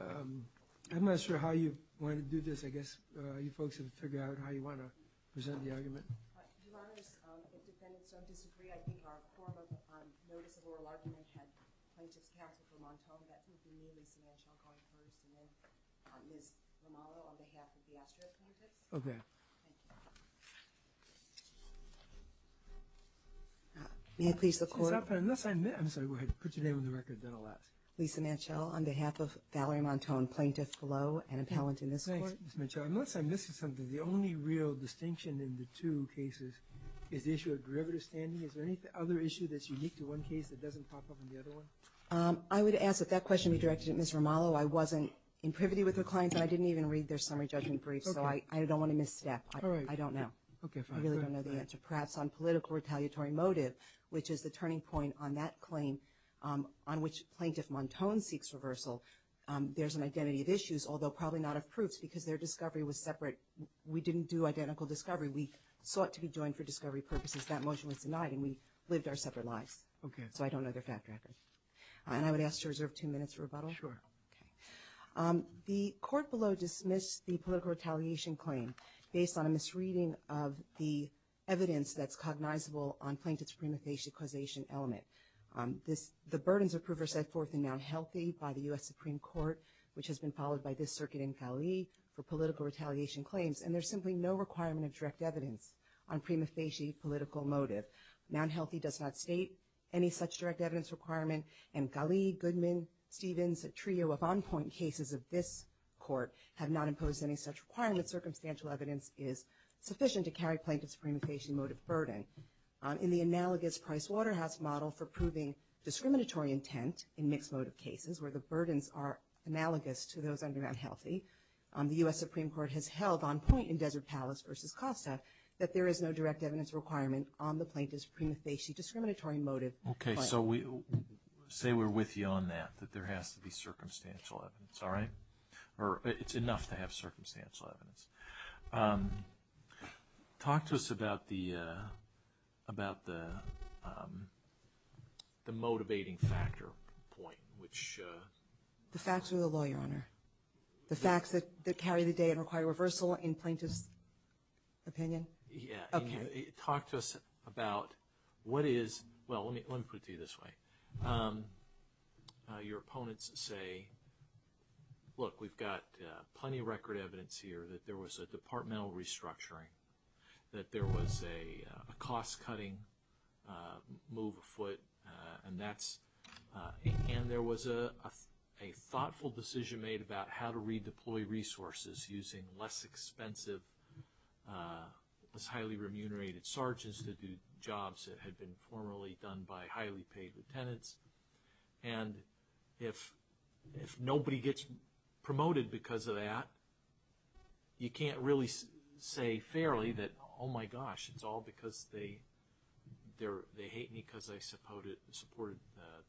I'm not sure how you want to do this. I guess you folks have to figure out how you want to present the argument. But do others, the defendants don't disagree. I think our form of notice of oral argument had plaintiffs counseled from Montone that you can name Lisa Manchel going first and then Ms. Romano on behalf of the Astra plaintiffs. OK. May I please the court? Unless I'm, I'm sorry, go ahead. Put your name on the record, then I'll ask. Lisa Manchel on behalf of Valerie Montone, plaintiff below and appellant in this court. Thanks, Ms. Manchel. Unless I'm missing something, the only real distinction in the two cases is the issue of derivative standing. Is there any other issue that's unique to one case that doesn't pop up in the other one? I would ask that that question be directed at Ms. Romano. I wasn't in privity with her clients and I didn't even read their summary judgment brief. So I don't want to misstep. All right. I don't know. OK, fine. I really don't know the answer. Perhaps on political retaliatory motive, which is the turning point on that claim, on which Plaintiff Montone seeks reversal, there's an identity of issues, although probably not of proofs because their discovery was separate. We didn't do identical discovery. We sought to be joined for discovery purposes. That motion was denied and we lived our separate lives. OK, so I don't know their fact record. And I would ask to reserve two minutes for rebuttal. Sure. The court below dismissed the political retaliation claim based on a misreading of the evidence that's cognizable on Plaintiff's prima facie causation element. The burdens of Prover said forth in Mount Healthy by the U.S. Supreme Court, which has been followed by this circuit in Cali for political retaliation claims. And there's simply no requirement of direct evidence on prima facie political motive. Mount Healthy does not state any such direct evidence requirement. And Cali, Goodman, Stevens, a trio of on point cases of this court have not imposed any such requirement. Circumstantial evidence is sufficient to carry Plaintiff's prima facie motive burden. In the analogous Price Waterhouse model for proving discriminatory intent in mixed motive cases where the burdens are analogous to those under Mount Healthy, the U.S. Supreme Court has held on point in Desert Palace versus Costa that there is no direct evidence requirement on the plaintiff's prima facie discriminatory motive. OK, so we say we're with you on that, that there has to be circumstantial evidence. All right. Or it's enough to have circumstantial evidence. Talk to us about the about the the motivating factor point, which the facts of the law, Your Honor, the facts that carry the day and require reversal in Plaintiff's opinion. Yeah. Talk to us about what is. Well, let me put it this way. Your opponents say, look, we've got plenty of record evidence here that there was a departmental restructuring, that there was a cost cutting move afoot. And that's and there was a a thoughtful decision made about how to redeploy resources using less expensive, highly remunerated sergeants to do jobs that had been formerly done by highly paid lieutenants. And if if nobody gets promoted because of that. You can't really say fairly that, oh, my gosh, it's all because they they're they hate me because I suppose it supported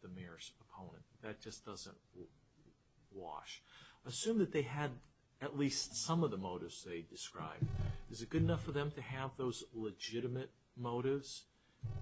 the mayor's opponent. That just doesn't wash. Assume that they had at least some of the motives they described. Is it good enough for them to have those legitimate motives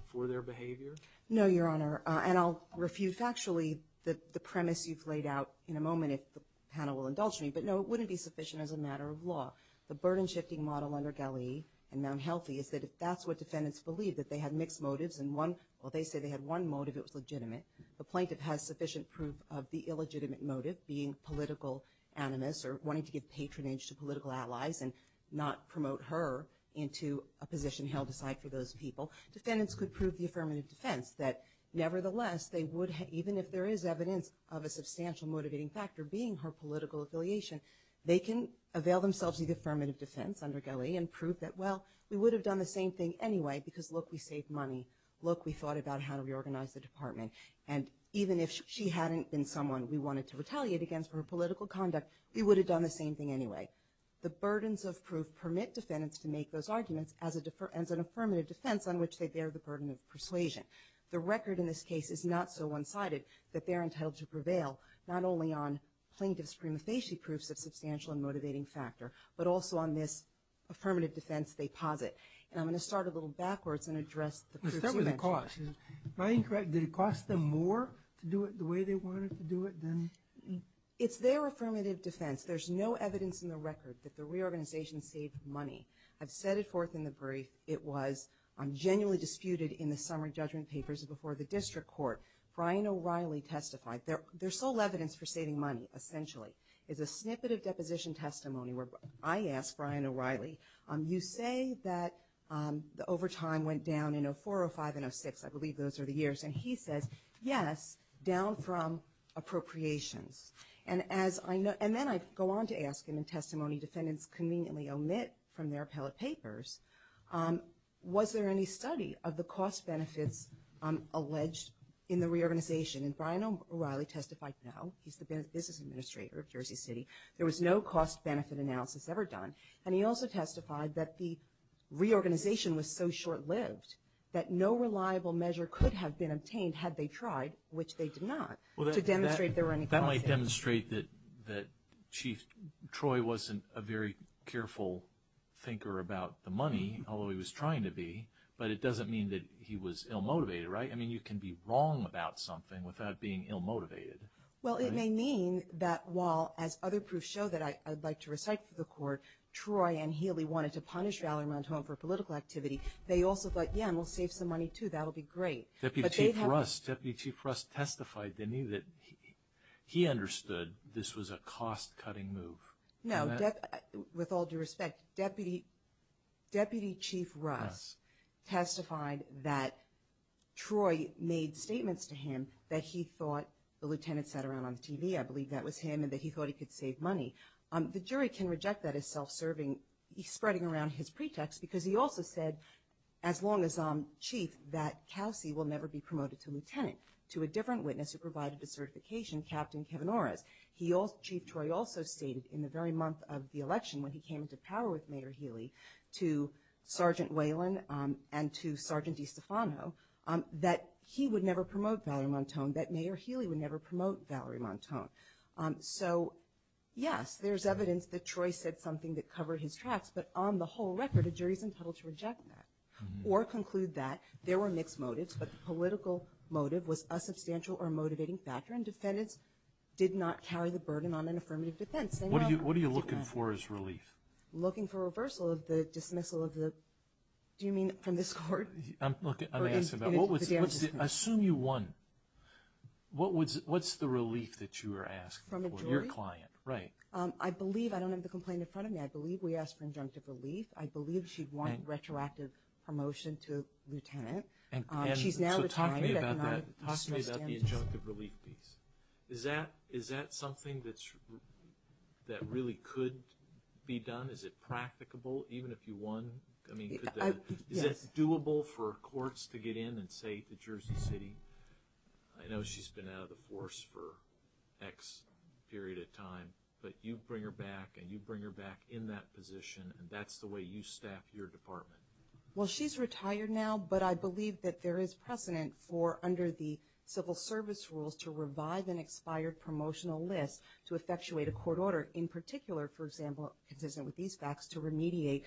for their behavior? No, Your Honor, and I'll refute factually that the premise you've laid out in a moment, if the panel will indulge me. But no, it wouldn't be sufficient as a matter of law. The burden shifting model under Galley and Mount Healthy is that if that's what defendants believe, that they had mixed motives and one, well, they say they had one motive. It was legitimate. The plaintiff has sufficient proof of the illegitimate motive being political animus or wanting to give patronage to political allies and not promote her into a position held aside for those people. Defendants could prove the affirmative defense that nevertheless, they would, even if there is evidence of a substantial motivating factor being her political affiliation, they can avail themselves of the affirmative defense under Galley and prove that, well, we would have done the same thing anyway, because, look, we save money. Look, we thought about how to reorganize the department. And even if she hadn't been someone we wanted to retaliate against for her political conduct, we would have done the same thing anyway. The burdens of proof permit defendants to make those arguments as an affirmative defense on which they bear the burden of persuasion. The record in this case is not so one-sided that they're entitled to prevail not only on plaintiff's prima facie proofs of substantial and motivating factor, but also on this affirmative defense they posit. And I'm going to start a little backwards and address the proofs you mentioned. Let's start with the cost. Am I incorrect? Did it cost them more to do it the way they wanted to do it than? It's their affirmative defense. There's no evidence in the record that the reorganization saved money. I've said it forth in the brief. It was genuinely disputed in the summary judgment papers before the district court. Brian O'Reilly testified. Their sole evidence for saving money, essentially, is a snippet of deposition testimony where I asked Brian O'Reilly, you say that the overtime went down in 04, 05, and 06, I believe those are the years. And he says, yes, down from appropriations. And then I go on to ask him in testimony defendants conveniently omit from their appellate papers, was there any study of the cost benefits alleged in the reorganization? And Brian O'Reilly testified, no. He's the business administrator of Jersey City. There was no cost benefit analysis ever done. And he also testified that the reorganization was so short-lived that no reliable measure could have been obtained had they tried, which they did not, to demonstrate there were any costs. But that might demonstrate that Chief Troy wasn't a very careful thinker about the money, although he was trying to be, but it doesn't mean that he was ill-motivated, right? I mean, you can be wrong about something without being ill-motivated. Well, it may mean that while, as other proofs show that I'd like to recite for the court, Troy and Healy wanted to punish Valerie Montoya for political activity, they also thought, yeah, and we'll save some money, too. That'll be great. Deputy Chief Russ testified, didn't he, that he understood this was a cost-cutting move. No, with all due respect, Deputy Chief Russ testified that Troy made statements to him that he thought, the lieutenant sat around on the TV, I believe that was him, and that he thought he could save money. The jury can reject that as self-serving, spreading around his pretext, because he also said, as long as I'm chief, that Kelsey will never be promoted to lieutenant, to a different witness who provided the certification, Captain Kevin Orris. Chief Troy also stated, in the very month of the election, when he came into power with Mayor Healy, to Sergeant Whalen and to Sergeant DiStefano, that he would never promote Valerie Montoya, that Mayor Healy would never promote Valerie Montoya. So, yes, there's evidence that Troy said something that covered his tracks, but on the whole record, a jury's entitled to reject that, or conclude that there were mixed motives, but the political motive was a substantial or motivating factor, and defendants did not carry the burden on an affirmative defense. What are you looking for as relief? Looking for reversal of the dismissal of the, do you mean from this court? I'm looking, I'm asking about, what was the, assume you won, what was, what's the relief that you were asking for, your client, right? I believe, I don't have the complaint in front of me, I believe we asked for injunctive relief, I believe she'd want retroactive promotion to lieutenant, she's now retired, I cannot, I just don't understand this. So talk to me about that, talk to me about the injunctive relief piece, is that, is that something that's, that really could be done, is it practicable, even if you won? I mean, could the, is that doable for courts to get in and say, the Jersey City, I know she's been out of the force for X period of time, but you bring her back, and you bring her back in that position, and that's the way you staff your department. Well, she's retired now, but I believe that there is precedent for, under the civil service rules, to revive an expired promotional list, to effectuate a court order, in particular, for example, consistent with these facts, to remediate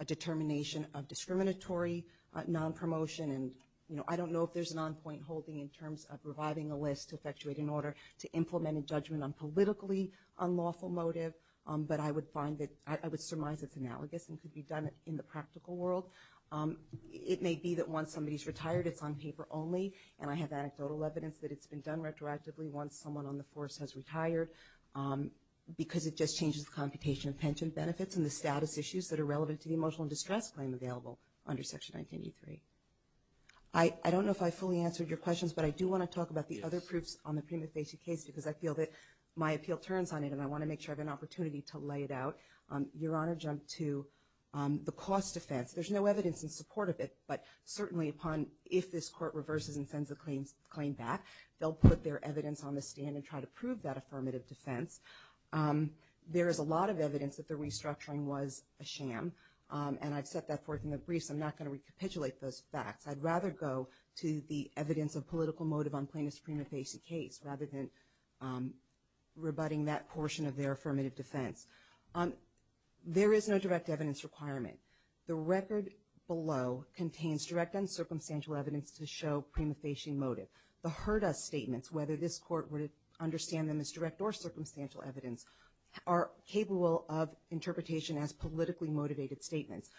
a determination of discriminatory non-promotion, and, you know, I don't know if there's an on-point holding in terms of reviving a list to effectuate an order to implement a judgment on politically unlawful motive, but I would find that, I would surmise it's analogous, and could be done in the past. In the practical world, it may be that once somebody's retired, it's on paper only, and I have anecdotal evidence that it's been done retroactively once someone on the force has retired, because it just changes the computation of pension benefits, and the status issues that are relevant to the emotional distress claim available under Section 1983. I, I don't know if I fully answered your questions, but I do want to talk about the other proofs on the prima facie case, because I feel that my appeal turns on it, and I want to make sure I have an opportunity to lay it out. Your Honor, jump to the cost defense. There's no evidence in support of it, but certainly upon, if this court reverses and sends the claims, claim back, they'll put their evidence on the stand and try to prove that affirmative defense. There is a lot of evidence that the restructuring was a sham, and I've set that forth in the briefs. I'm not going to recapitulate those facts. I'd rather go to the evidence of political motive on plaintiff's prima facie case, rather than rebutting that portion of their affirmative defense. There is no direct evidence requirement. The record below contains direct and circumstantial evidence to show prima facie motive. The heard us statements, whether this court would understand them as direct or circumstantial evidence, are capable of interpretation as politically motivated statements.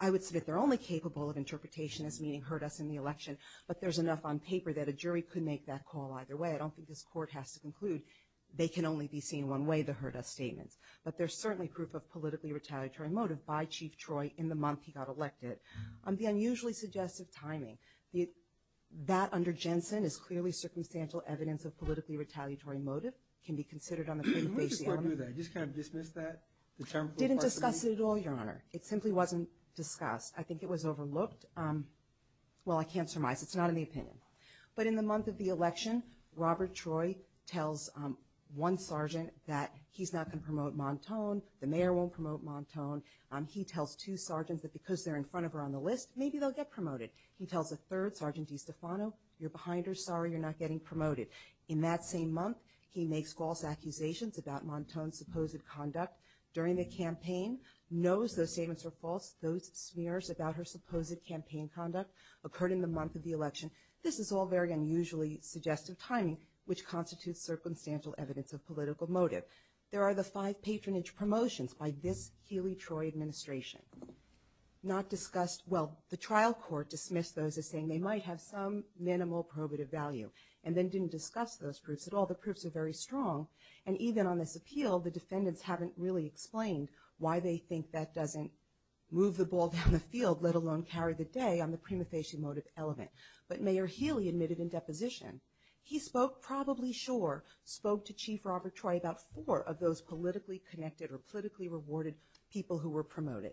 I would submit they're only capable of interpretation as meaning heard us in the election, but there's enough on paper that a jury could make that call either way. I don't think this court has to conclude they can only be seen one way, the heard us statements. But there's certainly proof of politically retaliatory motive by Chief Troy in the month he got elected. On the unusually suggestive timing, that under Jensen is clearly circumstantial evidence of politically retaliatory motive, can be considered on the prima facie. I didn't discuss it at all, your honor. It simply wasn't discussed. I think it was overlooked. Well, I can't surmise. It's not in the opinion. But in the month of the election, Robert Troy tells one sergeant that he's not going to promote Montone. The mayor won't promote Montone. He tells two sergeants that because they're in front of her on the list, maybe they'll get promoted. He tells a third sergeant DeStefano, you're behind her, sorry, you're not getting promoted. In that same month, he makes false accusations about Montone's supposed conduct during the campaign. Knows those statements are false. Those smears about her supposed campaign conduct occurred in the month of the election. This is all very unusually suggestive timing, which constitutes circumstantial evidence of political motive. There are the five patronage promotions by this Healy-Troy administration. Not discussed, well, the trial court dismissed those as saying they might have some minimal probative value. And then didn't discuss those proofs at all. The proofs are very strong. And even on this appeal, the defendants haven't really explained why they think that doesn't move the ball down the field, let alone carry the day on the prima facie motive element. But Mayor Healy admitted in deposition, he spoke probably sure, spoke to Chief Robert Troy about four of those politically connected or politically rewarded people who were promoted.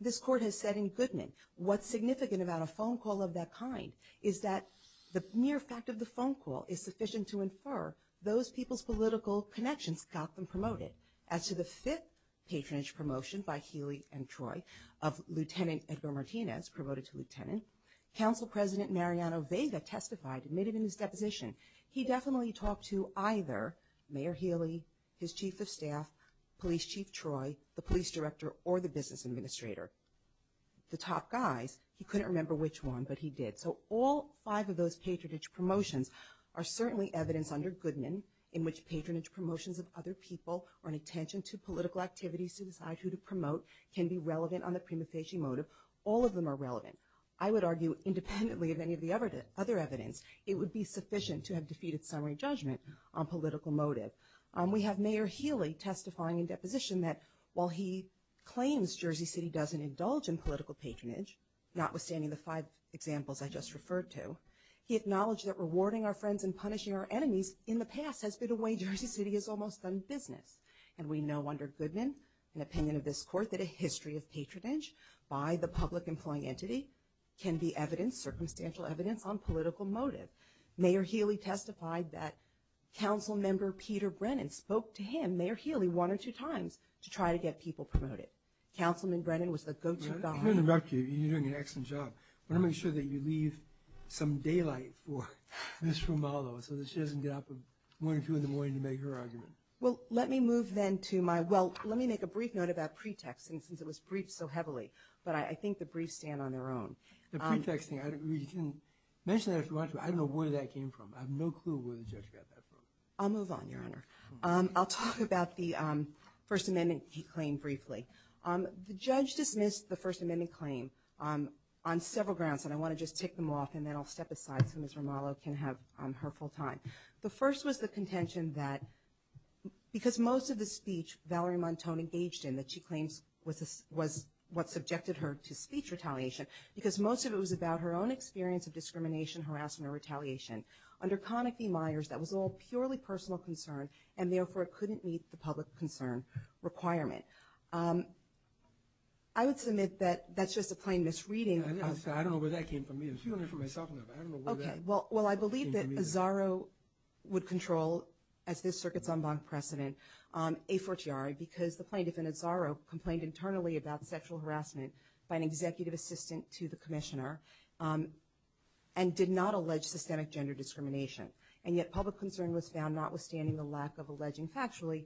This court has said in Goodman, what's significant about a phone call of that kind is that the mere fact of the phone call is sufficient to infer those people's political connections got them promoted. As to the fifth patronage promotion by Healy and Troy of Lieutenant Edgar Martinez, promoted to lieutenant, Council President Mariano Vega testified, admitted in his deposition, he definitely talked to either Mayor Healy, his Chief of Staff, Police Chief Troy, the Police Director, or the Business Administrator, the top guys. He couldn't remember which one, but he did. So all five of those patronage promotions are certainly evidence under Goodman in which patronage promotions of other people or an attention to political activities to decide who to promote can be relevant on the prima facie motive. All of them are relevant. I would argue independently of any of the other evidence, it would be sufficient to have defeated summary judgment on political motive. We have Mayor Healy testifying in deposition that while he claims Jersey City doesn't indulge in political patronage, notwithstanding the five examples I just referred to, he acknowledged that rewarding our friends and punishing our enemies in the past has been a way Jersey City has almost done business. And we know under Goodman, an opinion of this court, that a history of patronage by the public employing entity can be evidence, circumstantial evidence, on political motive. Mayor Healy testified that Council Member Peter Brennan spoke to him, Mayor Healy, one or two times to try to get people promoted. Councilman Brennan was the go-to guy. I'm going to interrupt you. You're doing an excellent job. I want to make sure that you leave some daylight for Ms. Romalo so that she doesn't get up at one or two in the morning to make her argument. Well, let me move then to my, well, let me make a brief note about pretexting, since it was briefed so heavily. But I think the briefs stand on their own. The pretexting, I don't know where that came from. I have no clue where the judge got that from. I'll move on, Your Honor. I'll talk about the First Amendment claim briefly. The judge dismissed the First Amendment claim on several grounds, and I want to just tick them off and then I'll step aside so Ms. Romalo can have her full time. The first was the contention that, because most of the speech Valerie Montone engaged in that she claims was what subjected her to speech retaliation, because most of it was about her own experience of discrimination, harassment, or retaliation. Under Conniff v. Myers, that was all purely personal concern, and therefore it couldn't meet the public concern requirement. I would submit that that's just a plain misreading. I don't know where that came from either. Well, I believe that Azaro would control, as this circuit's en banc precedent, a fortiori, because the plaintiff in Azaro complained internally about sexual harassment by an executive assistant to the commissioner, and did not allege systemic gender discrimination. And yet public concern was found notwithstanding the lack of alleging factually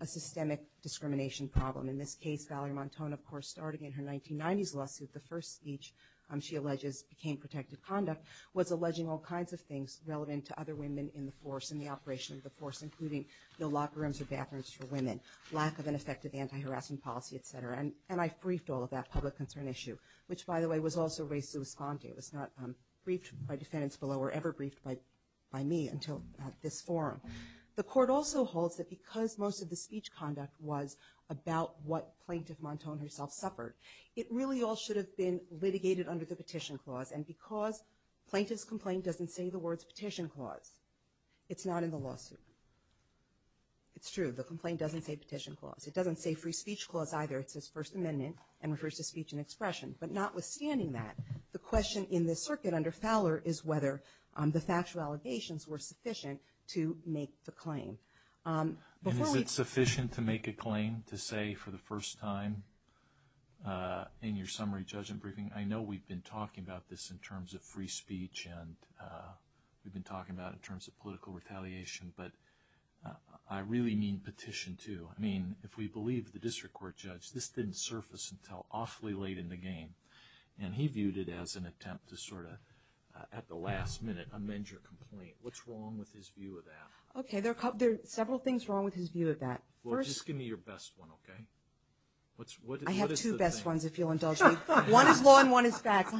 a systemic discrimination problem. In this case, Valerie Montone, of course, starting in her 1990s lawsuit, the first speech she alleges became protective conduct, was alleging all kinds of things relevant to other women in the force, in the operation of the force, including no locker rooms or bathrooms for women, lack of an effective anti-harassment policy, et cetera. And I briefed all of that public concern issue, which, by the way, was also raised to respond to. It was not briefed by defendants below or ever briefed by me until at this forum. The court also holds that because most of the speech conduct was about what Plaintiff Montone herself suffered, it really all should have been litigated under the Petition Clause, and because Plaintiff's complaint doesn't say the words Petition Clause, it's not in the lawsuit. It's true, the complaint doesn't say Petition Clause. It doesn't say Free Speech Clause either. It says First Amendment and refers to speech and expression. But notwithstanding that, the question in this circuit under Fowler is whether the factual allegations were sufficient to make the claim. And is it sufficient to make a claim to say for the first time in your summary judgment briefing, I know we've been talking about this in terms of free speech and we've been talking about it in terms of political retaliation, but I really mean Petition 2. I mean, if we believe the district court judge, this didn't surface until awfully late in the game. And he viewed it as an attempt to sort of, at the last minute, amend your complaint. What's wrong with his view of that? Okay, there are several things wrong with his view of that. Well, just give me your best one, okay? I have two best ones, if you'll indulge me. One is law and one is fact.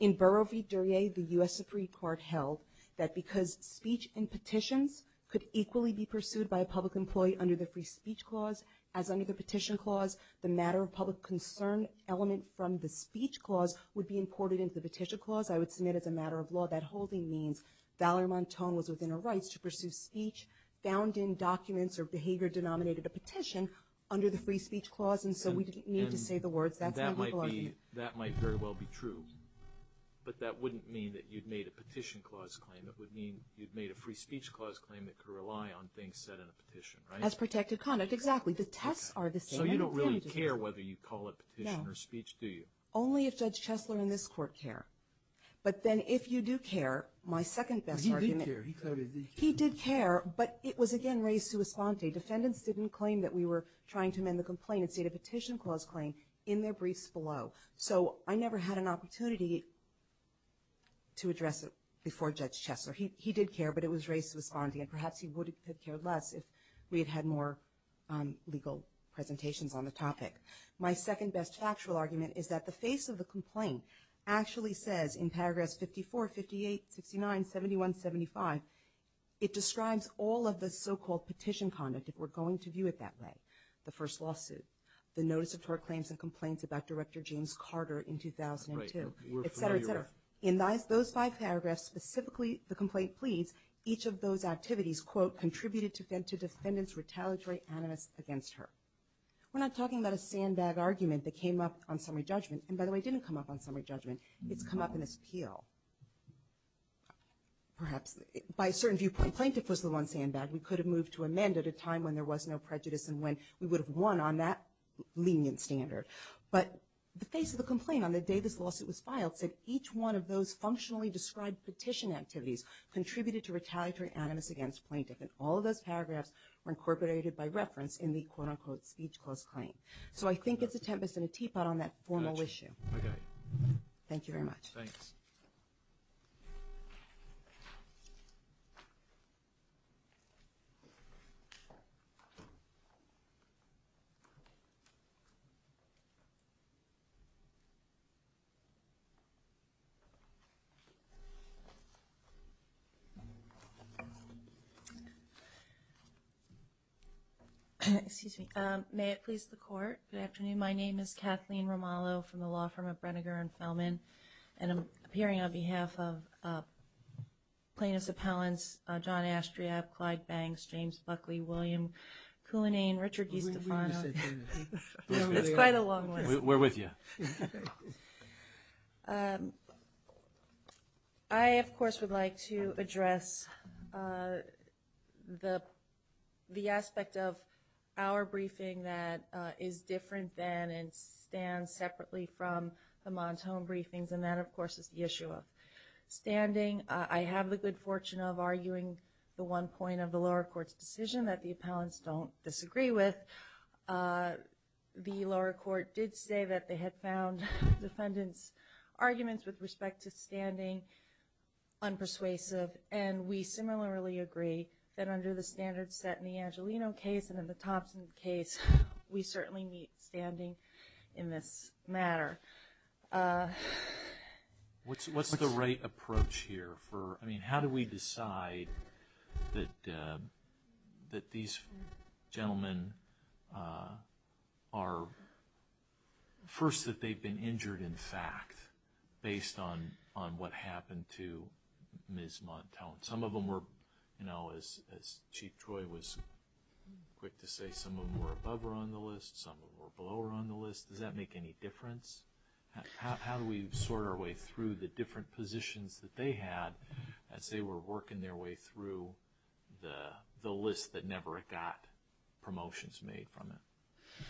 In Borough v. Duryea, the U.S. Supreme Court held that because speech and petitions could equally be pursued by a public employee under the Free Speech Clause as under the Petition Clause, the matter of public concern element from the Speech Clause would be imported into the Petition Clause, I would submit as a matter of law that holding means Valerie Montone was within her rights to pursue speech found in documents or behavior denominated a petition under the Free Speech Clause, and so we didn't need to say the words that's how people are viewed. That might very well be true, but that wouldn't mean that you'd made a Petition Clause claim. It would mean you'd made a Free Speech Clause claim that could rely on things said in a petition, right? As protected conduct, exactly. The tests are the same. So you don't really care whether you call it petition or speech, do you? Only if Judge Chesler and this court care. But then if you do care, my second best argument. He did care, but it was again raised to a sponte. Defendants didn't claim that we were trying to amend the complaint and state a Petition Clause claim in their briefs below. So I never had an opportunity to address it before Judge Chesler. He did care, but it was raised to a sponte, and perhaps he would have cared less if we had had more legal presentations on the topic. My second best factual argument is that the face of the complaint actually says in paragraph 54, 58, 69, 71, 75, it describes all of the so-called petition conduct if we're going to view it that way. The first lawsuit. The notice of tort claims and complaints about Director James Carter in 2002, et cetera, et cetera. In those five paragraphs, specifically the complaint pleads, each of those activities, quote, contributed to defendants retaliatory animus against her. We're not talking about a sandbag argument that came up on summary judgment. And by the way, it didn't come up on summary judgment. It's come up in this appeal. Perhaps by a certain viewpoint, plaintiff was the one sandbag we could have moved to amend at a time when there was no prejudice and when we would have won on that lenient standard. But the face of the complaint on the day this lawsuit was filed said each one of those functionally described petition activities contributed to retaliatory animus against plaintiff. And all of those paragraphs were incorporated So I think it's a tempest and a teapot on that formal issue. Okay. Thank you very much. Thanks. Excuse me. May it please the court. Good afternoon. My name is Kathleen Romalo from the law firm of Brenegar and Feldman. And I'm appearing on behalf of plaintiff's appellants, John Astriab, Clyde Banks, James Buckley, William Kuhnane, Richard Guistafano. We're with you. It's quite a long list. We're with you. I, of course, would like to address the aspect of our briefing that is different than and stands separately from the Montone briefings. And that, of course, is the issue of standing. I have the good fortune of arguing the one point of the lower court's decision that the appellants don't disagree with. The lower court did say that they had found defendants' arguments with respect to standing unpersuasive. And we similarly agree that under the standards set in the Angelino case and in the Thompson case, we certainly meet standing in this matter. What's the right approach here for, I mean, how do we decide that these gentlemen are, first, that they've been injured in fact based on what happened to Ms. Montone? Some of them were, as Chief Troy was quick to say, some of them were above her on the list, some of them were below her on the list. Does that make any difference? How do we sort our way through the different positions that they had as they were working their way through the list that never got promotions made from it?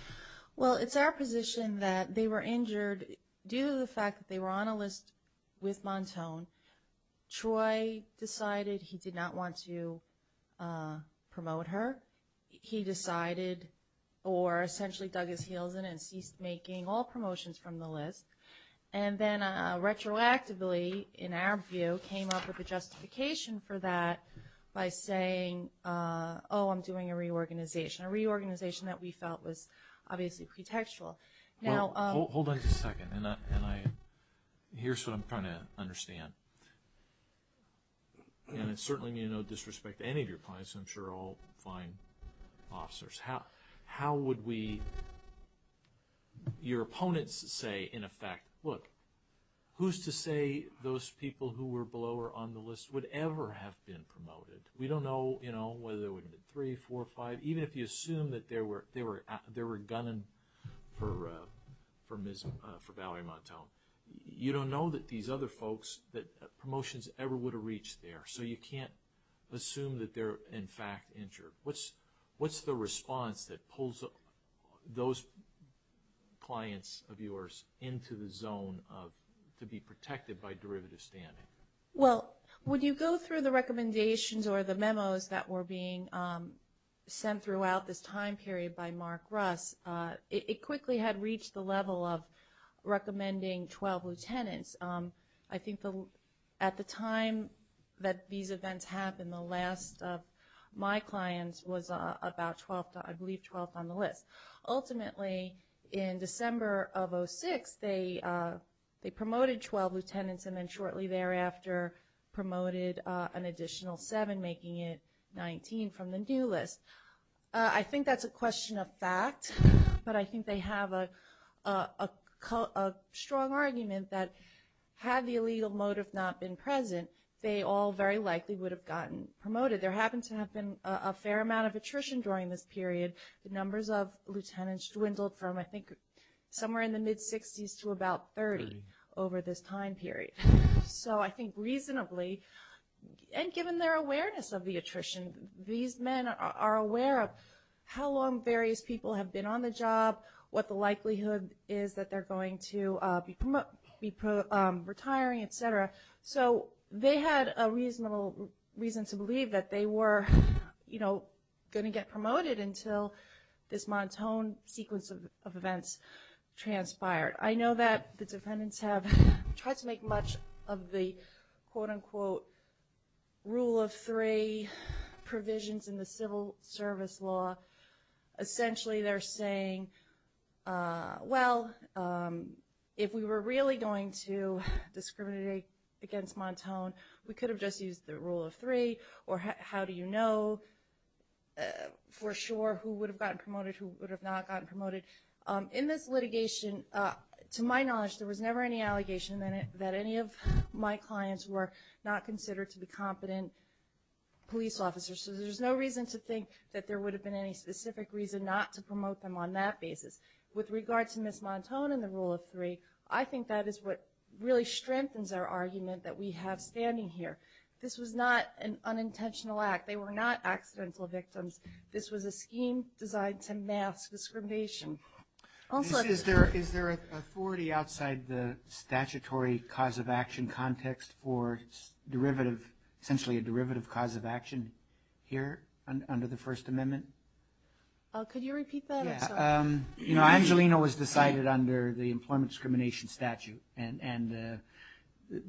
Well, it's our position that they were injured due to the fact that they were on a list with Montone. Troy decided he did not want to promote her. He decided, or essentially dug his heels in and ceased making all promotions from the list. And then retroactively, in our view, came up with a justification for that by saying, oh, I'm doing a reorganization, a reorganization that we felt was obviously pretextual. Now- Hold on just a second. And I, here's what I'm trying to understand. And it certainly need no disrespect to any of your clients. I'm sure all fine officers. How would we, your opponents say, in effect, look, who's to say those people who were below her on the list would ever have been promoted? We don't know, you know, whether there would have been three, four, five, even if you assume that they were gunning for Valerie Montone. You don't know that these other folks, that promotions ever would have reached there. So you can't assume that they're, in fact, injured. What's the response that pulls those clients of yours into the zone of to be protected by derivative standing? Well, when you go through the recommendations or the memos that were being sent throughout this time period by Mark Russ, it quickly had reached the level of recommending 12 lieutenants. I think at the time that these events happened, the last of my clients was about 12th, I believe 12th on the list. Ultimately, in December of 06, they promoted 12 lieutenants, and then shortly thereafter promoted an additional seven, making it 19 from the new list. I think that's a question of fact, but I think they have a strong argument that had the illegal motive not been present, they all very likely would have gotten promoted. There happened to have been a fair amount of attrition during this period. The numbers of lieutenants dwindled from I think somewhere in the mid-60s to about 30 over this time period. So I think reasonably, and given their awareness of the attrition, these men are aware of how long various people have been on the job, what the likelihood is that they're going to be retiring, et cetera. So they had a reasonable reason to believe that they were gonna get promoted until this Montone sequence of events transpired. I know that the defendants have tried to make much of the quote-unquote rule of three provisions in the civil service law. Essentially, they're saying, well, if we were really going to discriminate against Montone, we could have just used the rule of three, or how do you know for sure who would have gotten promoted, who would have not gotten promoted? In this litigation, to my knowledge, there was never any allegation that any of my clients were not considered to be competent police officers. So there's no reason to think that there would have been any specific reason not to promote them on that basis. With regard to Ms. Montone and the rule of three, I think that is what really strengthens our argument that we have standing here. This was not an unintentional act. They were not accidental victims. This was a scheme designed to mask discrimination. Also- cause of action context for derivative, essentially a derivative cause of action here under the First Amendment? Could you repeat that? I'm sorry. You know, Angelino was decided under the employment discrimination statute, and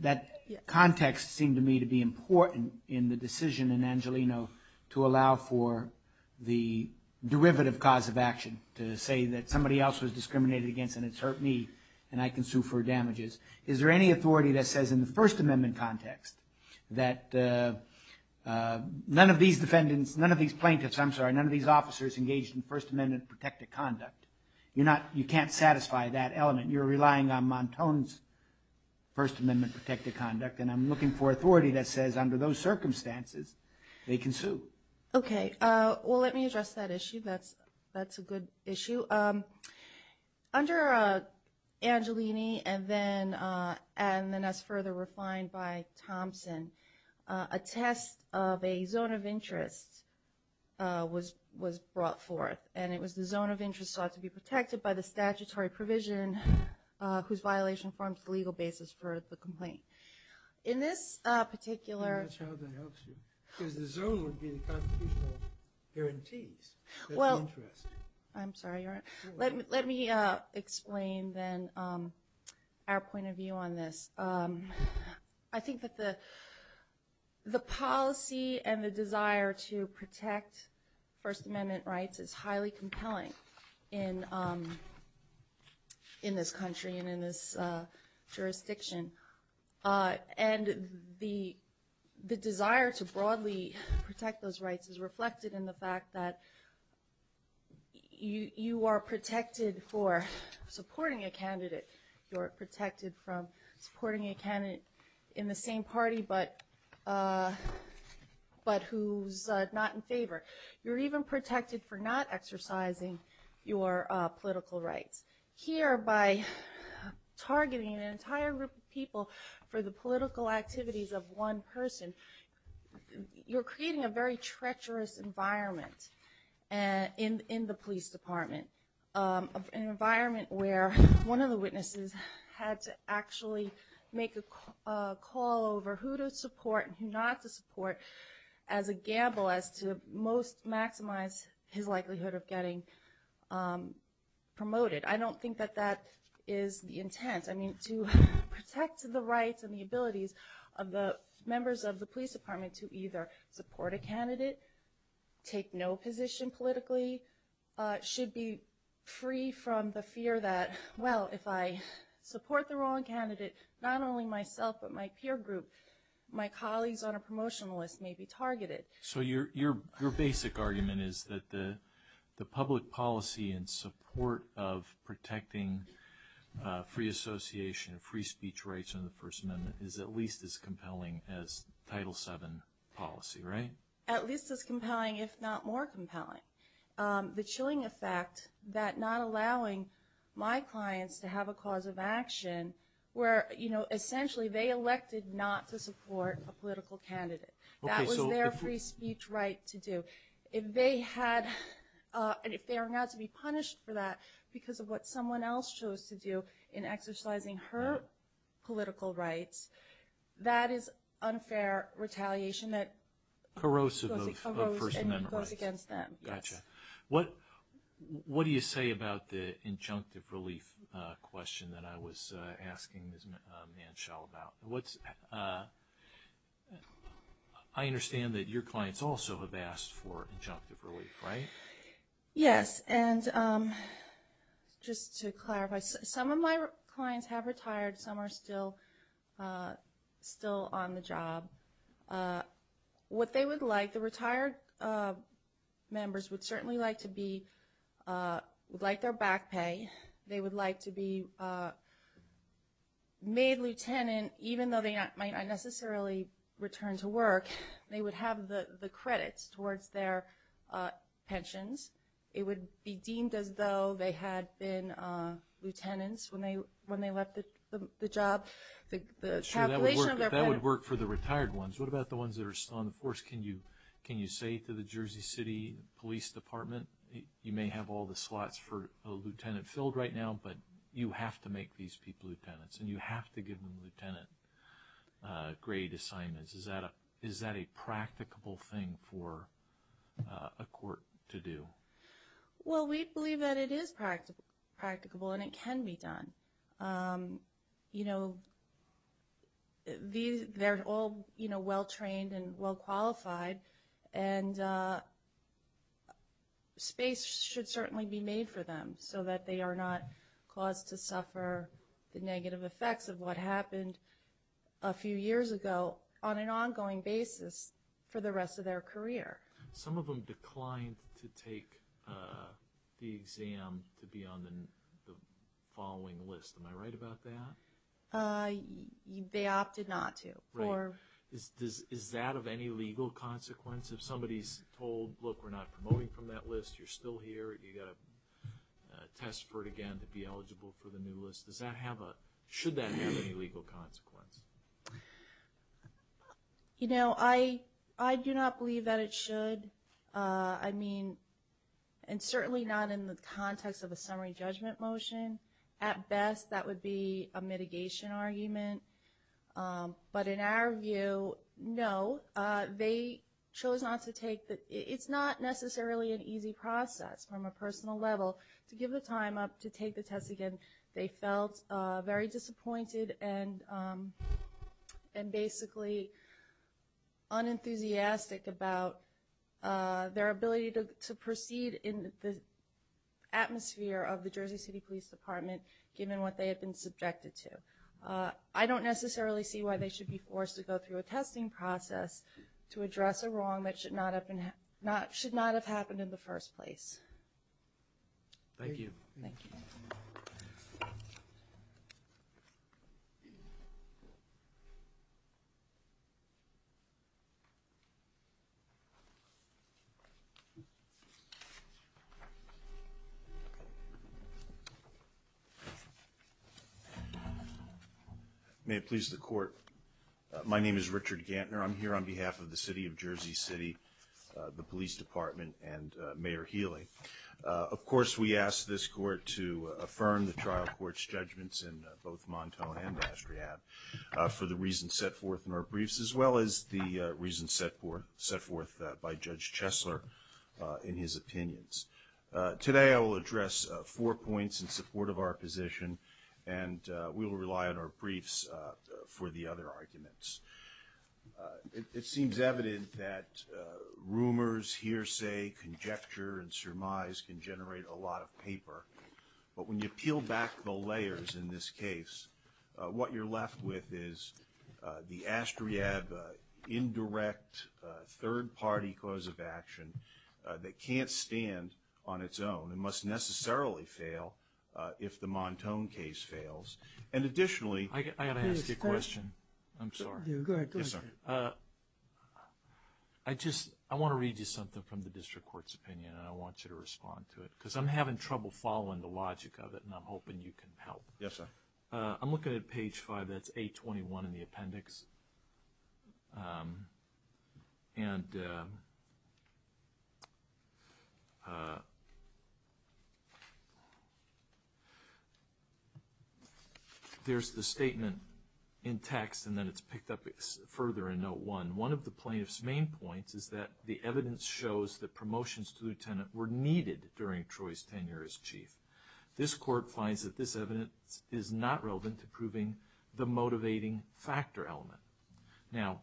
that context seemed to me to be important in the decision in Angelino to allow for the derivative cause of action to say that somebody else was discriminated against and it's hurt me and I can sue for damages. Is there any authority that says in the First Amendment context that none of these defendants, none of these plaintiffs, I'm sorry, none of these officers engaged in First Amendment protected conduct? You're not, you can't satisfy that element. You're relying on Montone's First Amendment protected conduct, and I'm looking for authority that says under those circumstances, they can sue. Okay, well let me address that issue. That's a good issue. Under Angelini and then as further refined by Thompson, a test of a zone of interest was brought forth, and it was the zone of interest sought to be protected by the statutory provision whose violation forms the legal basis for the complaint. In this particular. That's how they asked you. Because the zone would be the constitutional guarantees. Well. That's the interest. I'm sorry, let me explain then our point of view on this. I think that the policy and the desire to protect First Amendment rights is highly compelling in this country and in this jurisdiction. And the desire to broadly protect those rights is reflected in the fact that you are protected for supporting a candidate. You're protected from supporting a candidate in the same party, but who's not in favor. You're even protected for not exercising your political rights. Here, by targeting an entire group of people for the political activities of one person, you're creating a very treacherous environment in the police department. An environment where one of the witnesses had to actually make a call over who to support and who not to support as a gamble as to most maximize his likelihood of getting promoted. I don't think that that is the intent. I mean, to protect the rights and the abilities of the members of the police department to either support a candidate, take no position politically, should be free from the fear that, well, if I support the wrong candidate, not only myself, but my peer group, my colleagues on a promotional list may be targeted. So your basic argument is that the public policy and support of protecting free association and free speech rights under the First Amendment is at least as compelling as Title VII policy, right? At least as compelling, if not more compelling. The chilling effect that not allowing my clients to have a cause of action where essentially they elected not to support a political candidate. That was their free speech right to do. If they are not to be punished for that because of what someone else chose to do in exercising her political rights, that is unfair retaliation that corrosive of First Amendment rights. Corrosive and goes against them, yes. What do you say about the injunctive relief question that I was asking Ms. Manshall about? I understand that your clients also have asked for injunctive relief, right? Yes, and just to clarify, some of my clients have retired, some are still on the job. What they would like, the retired members would certainly like to be, would like their back pay. They would like to be made lieutenant even though they might not necessarily return to work. They would have the credits towards their pensions. It would be deemed as though they had been lieutenants when they left the job. The calculation of their credits. That would work for the retired ones. What about the ones that are still on the force? Can you say to the Jersey City Police Department, you may have all the slots for a lieutenant filled right now but you have to make these people lieutenants and you have to give them lieutenant grade assignments. Is that a practicable thing for a court to do? Well, we believe that it is practicable and it can be done. They're all well-trained and well-qualified and space should certainly be made for them so that they are not caused to suffer the negative effects of what happened a few years ago on an ongoing basis for the rest of their career. Some of them declined to take the exam to be on the following list. Am I right about that? They opted not to. Right. Is that of any legal consequence? If somebody's told, look, we're not promoting from that list, you're still here, you gotta test for it again to be eligible for the new list. Does that have a, should that have any legal consequence? You know, I do not believe that it should. I mean, and certainly not in the context of a summary judgment motion. At best, that would be a mitigation argument. But in our view, no, they chose not to take the, it's not necessarily an easy process from a personal level to give the time up to take the test again. They felt very disappointed and basically unenthusiastic about their ability to proceed in the atmosphere of the Jersey City Police Department given what they had been subjected to. I don't necessarily see why they should be forced to go through a testing process to address a wrong that should not have happened in the first place. Thank you. Thank you. Thank you. May it please the court. My name is Richard Gantner. I'm here on behalf of the city of Jersey City, the police department, and Mayor Healy. Of course, we ask this court to affirm the trial court's judgments in both Montone and Astreab for the reasons set forth in our briefs as well as the reasons set forth by Judge Chesler in his opinions. Today, I will address four points in support of our position, and we will rely on our briefs for the other arguments. It seems evident that rumors, hearsay, conjecture, and surmise can generate a lot of paper. But when you peel back the layers in this case, what you're left with is the Astreab indirect third-party cause of action that can't stand on its own and must necessarily fail if the Montone case fails. And additionally- I gotta ask you a question. I'm sorry. Yeah, go ahead, go ahead. Yes, sir. I just, I wanna read you something from the district court's opinion, and I want you to respond to it. Because I'm having trouble following the logic of it, and I'm hoping you can help. Yes, sir. I'm looking at page five. That's 821 in the appendix. And... There's the statement in text, and then it's picked up further in note one. One of the plaintiff's main points is that the evidence shows that promotions to the lieutenant were needed during Troy's tenure as chief. This court finds that this evidence is not relevant to proving the motivating factor element. Now,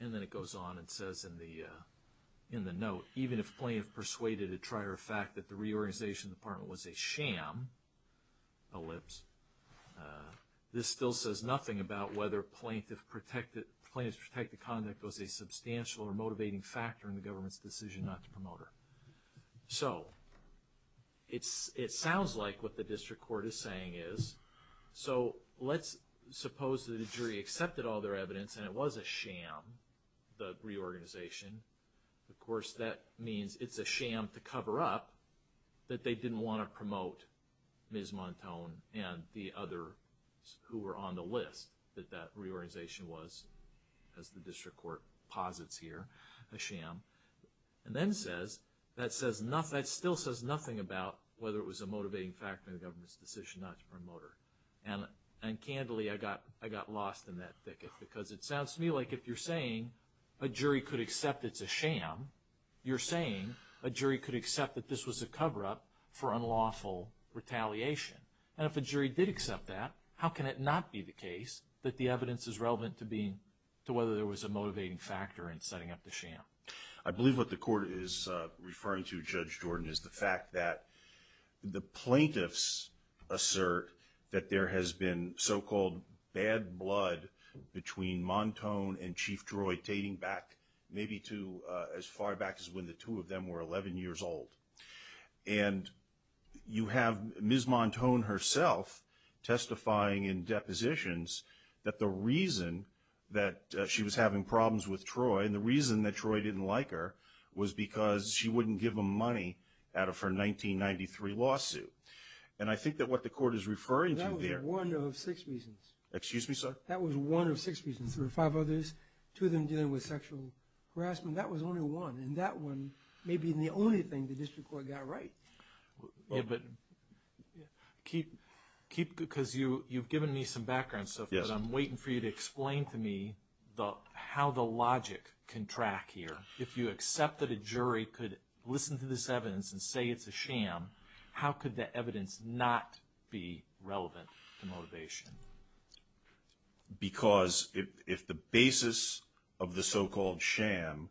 and then it goes on and says in the note, even if plaintiff persuaded at trier fact that the reorganization department was a sham, ellipse, this still says nothing about whether plaintiff protected, plaintiff's protected conduct was a substantial or motivating factor in the government's decision not to promote her. So, it sounds like what the district court is saying is, so let's suppose that a jury accepted all their evidence and it was a sham, the reorganization. Of course, that means it's a sham to cover up that they didn't want to promote Ms. Montone and the others who were on the list that that reorganization was, as the district court posits here, a sham. And then says, that still says nothing about whether it was a motivating factor in the government's decision not to promote her. And candidly, I got lost in that thicket because it sounds to me like if you're saying a jury could accept it's a sham, you're saying a jury could accept that this was a coverup for unlawful retaliation. And if a jury did accept that, how can it not be the case that the evidence is relevant to being, to whether there was a motivating factor in setting up the sham? I believe what the court is referring to, Judge Jordan, is the fact that the plaintiffs assert that there has been so-called bad blood between Montone and Chief Troy dating back maybe to as far back as when the two of them were 11 years old. And you have Ms. Montone herself testifying in depositions that the reason that she was having problems with Troy, and the reason that Troy didn't like her was because she wouldn't give him money out of her 1993 lawsuit. And I think that what the court is referring to there. That was one of six reasons. Excuse me, sir? That was one of six reasons. There were five others. Two of them dealing with sexual harassment. That was only one. And that one may be the only thing the district court got right. Yeah, but keep, because you've given me some background stuff that I'm waiting for you to explain to me how the logic can track here. If you accept that a jury could listen to this evidence and say it's a sham, how could the evidence not be relevant to motivation? Because if the basis of the so-called sham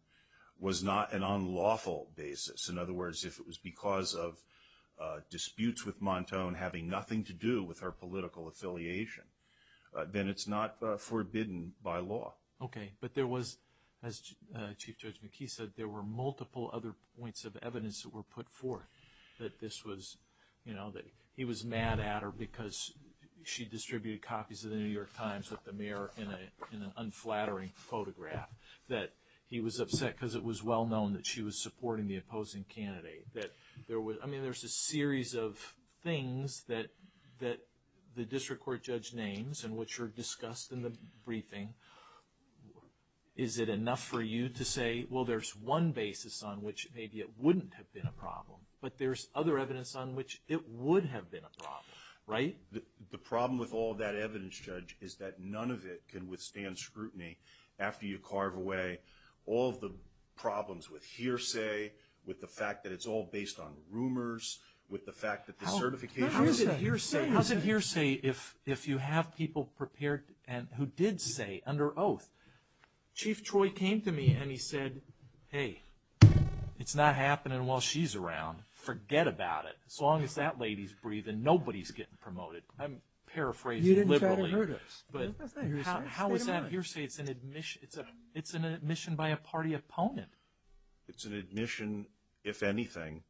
was not an unlawful basis, in other words, if it was because of disputes with Montone having nothing to do with her political affiliation, then it's not forbidden by law. Okay, but there was, as Chief Judge McKee said, there were multiple other points of evidence that were put forth that this was, you know, that he was mad at her because she distributed copies of the New York Times with the mayor in an unflattering photograph. That he was upset because it was well known that she was supporting the opposing candidate. That there was, I mean, there's a series of things that the district court judge names and which are discussed in the briefing. Is it enough for you to say, well, there's one basis on which maybe it wouldn't have been a problem, but there's other evidence on which it would have been a problem, right? The problem with all that evidence, Judge, is that none of it can withstand scrutiny after you carve away all of the problems with hearsay, with the fact that it's all based on rumors, with the fact that the certifications. How's it hearsay if you have people prepared and who did say under oath, Chief Troy came to me and he said, hey, it's not happening while she's around. Forget about it. So long as that lady's breathing, nobody's getting promoted. I'm paraphrasing liberally, but how is that hearsay? It's an admission by a party opponent. It's an admission, if anything,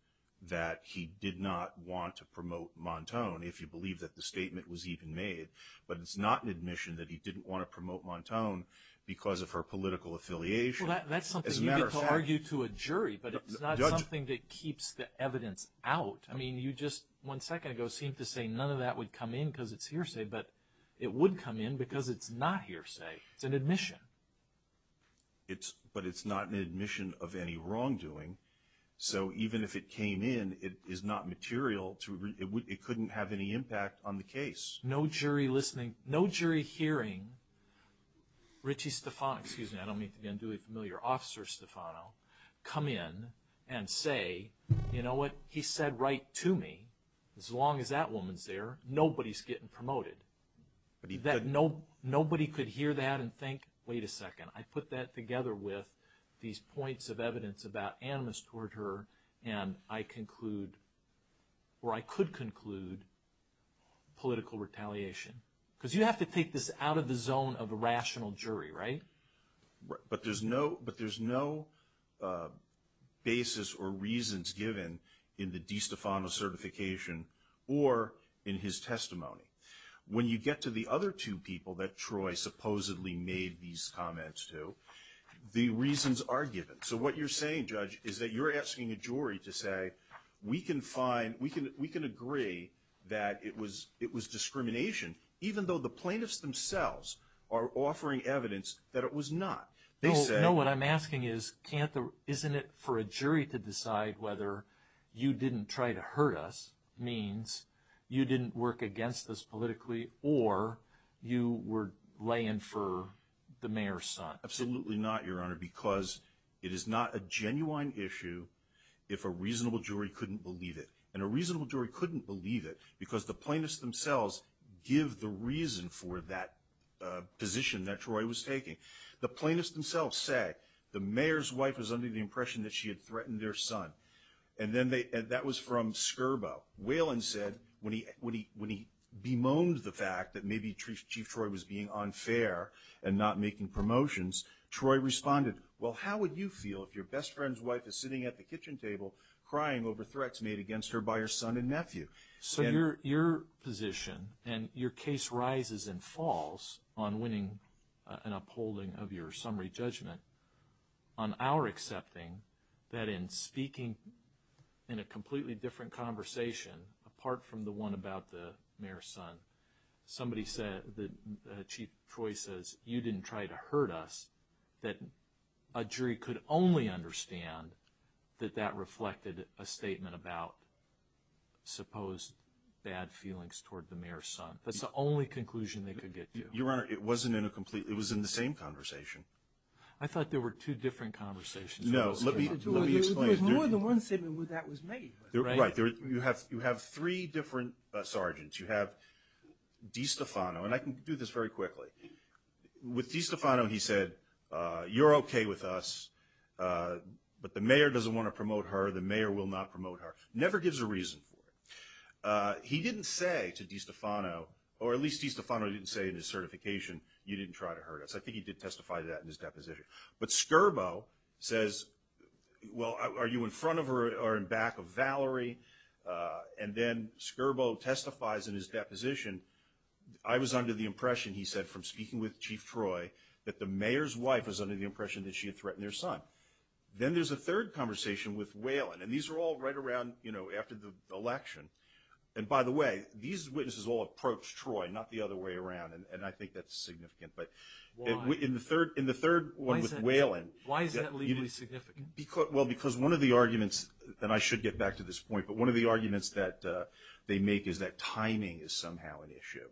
that he did not want to promote Montone if you believe that the statement was even made, but it's not an admission that he didn't want to promote Montone because of her political affiliation. As a matter of fact- Well, that's something you get to argue to a jury, but it's not something that keeps the evidence out. I mean, you just one second ago seemed to say none of that would come in because it's hearsay, but it would come in because it's not hearsay. It's an admission. But it's not an admission of any wrongdoing. So even if it came in, it is not material. It couldn't have any impact on the case. No jury listening, no jury hearing, Ritchie Stefano, excuse me, I don't mean to be unduly familiar, Officer Stefano, come in and say, you know what, he said right to me, as long as that woman's there, nobody's getting promoted. That nobody could hear that and think wait a second, I put that together with these points of evidence about animus toward her and I conclude, or I could conclude, political retaliation. Because you have to take this out of the zone of a rational jury, right? But there's no basis or reasons given in the DiStefano certification or in his testimony. When you get to the other two people that Troy supposedly made these comments to, the reasons are given. So what you're saying, Judge, is that you're asking a jury to say, we can agree that it was discrimination even though the plaintiffs themselves are offering evidence that it was not. They say. No, what I'm asking is, isn't it for a jury to decide whether you didn't try to hurt us means you didn't work against us politically or you were laying for the mayor's son? Absolutely not, Your Honor, because it is not a genuine issue if a reasonable jury couldn't believe it. And a reasonable jury couldn't believe it because the plaintiffs themselves give the reason for that position that Troy was taking. The plaintiffs themselves say, the mayor's wife was under the impression that she had threatened their son. And that was from Scurbo. Whalen said, when he bemoaned the fact that maybe Chief Troy was being unfair and not making promotions, Troy responded, well, how would you feel if your best friend's wife is sitting at the kitchen table crying over threats made against her by her son and nephew? So your position, and your case rises and falls on winning an upholding of your summary judgment, on our accepting that in speaking in a completely different conversation, apart from the one about the mayor's son, somebody said, Chief Troy says, you didn't try to hurt us, that a jury could only understand that that reflected a statement about supposed bad feelings toward the mayor's son. That's the only conclusion they could get to. Your Honor, it wasn't in a complete, it was in the same conversation. I thought there were two different conversations. No, let me explain. There was more than one statement where that was made. Right, you have three different sergeants. You have DiStefano, and I can do this very quickly. With DiStefano, he said, you're okay with us, but the mayor doesn't want to promote her, the mayor will not promote her. Never gives a reason for it. He didn't say to DiStefano, or at least DiStefano didn't say in his certification, you didn't try to hurt us. I think he did testify to that in his deposition. But Scurbo says, well, are you in front of her or in back of Valerie? And then Scurbo testifies in his deposition, I was under the impression, he said, from speaking with Chief Troy, that the mayor's wife was under the impression that she had threatened their son. Then there's a third conversation with Whalen, and these are all right around after the election. And by the way, these witnesses all approached Troy, not the other way around, and I think that's significant. But in the third one with Whalen. Why is that legally significant? Well, because one of the arguments, and I should get back to this point, but one of the arguments that they make is that timing is somehow an issue.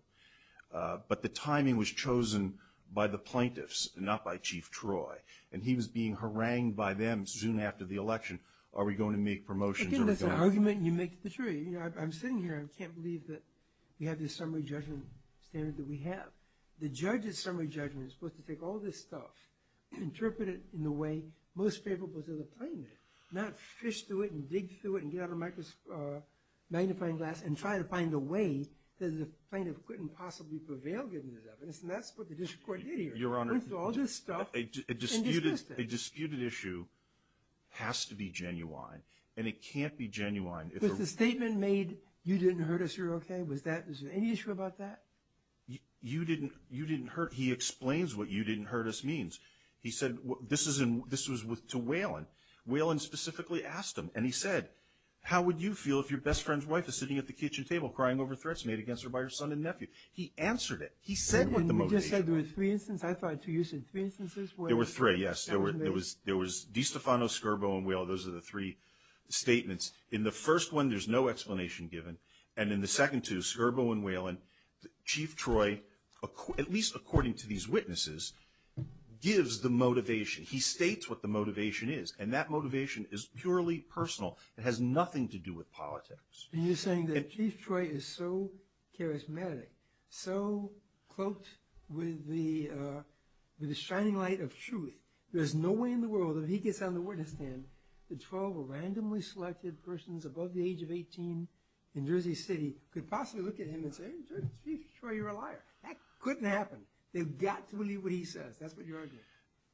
But the timing was chosen by the plaintiffs, not by Chief Troy, and he was being harangued by them soon after the election. Are we going to make promotions or are we going to? Again, that's an argument, and you make the jury. I'm sitting here, I can't believe that we have this summary judgment standard that we have. The judge's summary judgment is supposed to take all this stuff, interpret it in the way most favorable to the plaintiff, not fish through it and dig through it and get out a magnifying glass and try to find a way that the plaintiff couldn't possibly prevail given this evidence, and that's what the district court did here. Went through all this stuff and dismissed it. A disputed issue has to be genuine, and it can't be genuine if a... Was the statement made, you didn't hurt us, you're okay, was there any issue about that? You didn't hurt, he explains what you didn't hurt us means. He said, this was to Whelan. Whelan specifically asked him, and he said, how would you feel if your best friend's wife is sitting at the kitchen table crying over threats made against her by her son and nephew? He answered it. He said what the motivation was. You just said there were three instances. I thought you said three instances where... There were three, yes. There was DiStefano, Skirbo, and Whelan. Those are the three statements. In the first one, there's no explanation given, and in the second two, Skirbo and Whelan, Chief Troy, at least according to these witnesses, gives the motivation. He states what the motivation is, and that motivation is purely personal. It has nothing to do with politics. And you're saying that Chief Troy is so charismatic, so cloaked with the shining light of truth, there's no way in the world if he gets on the witness stand that 12 randomly selected persons above the age of 18 in Jersey City could possibly look at him and say, hey, Chief Troy, you're a liar. That couldn't happen. They've got to believe what he says. That's what you're arguing.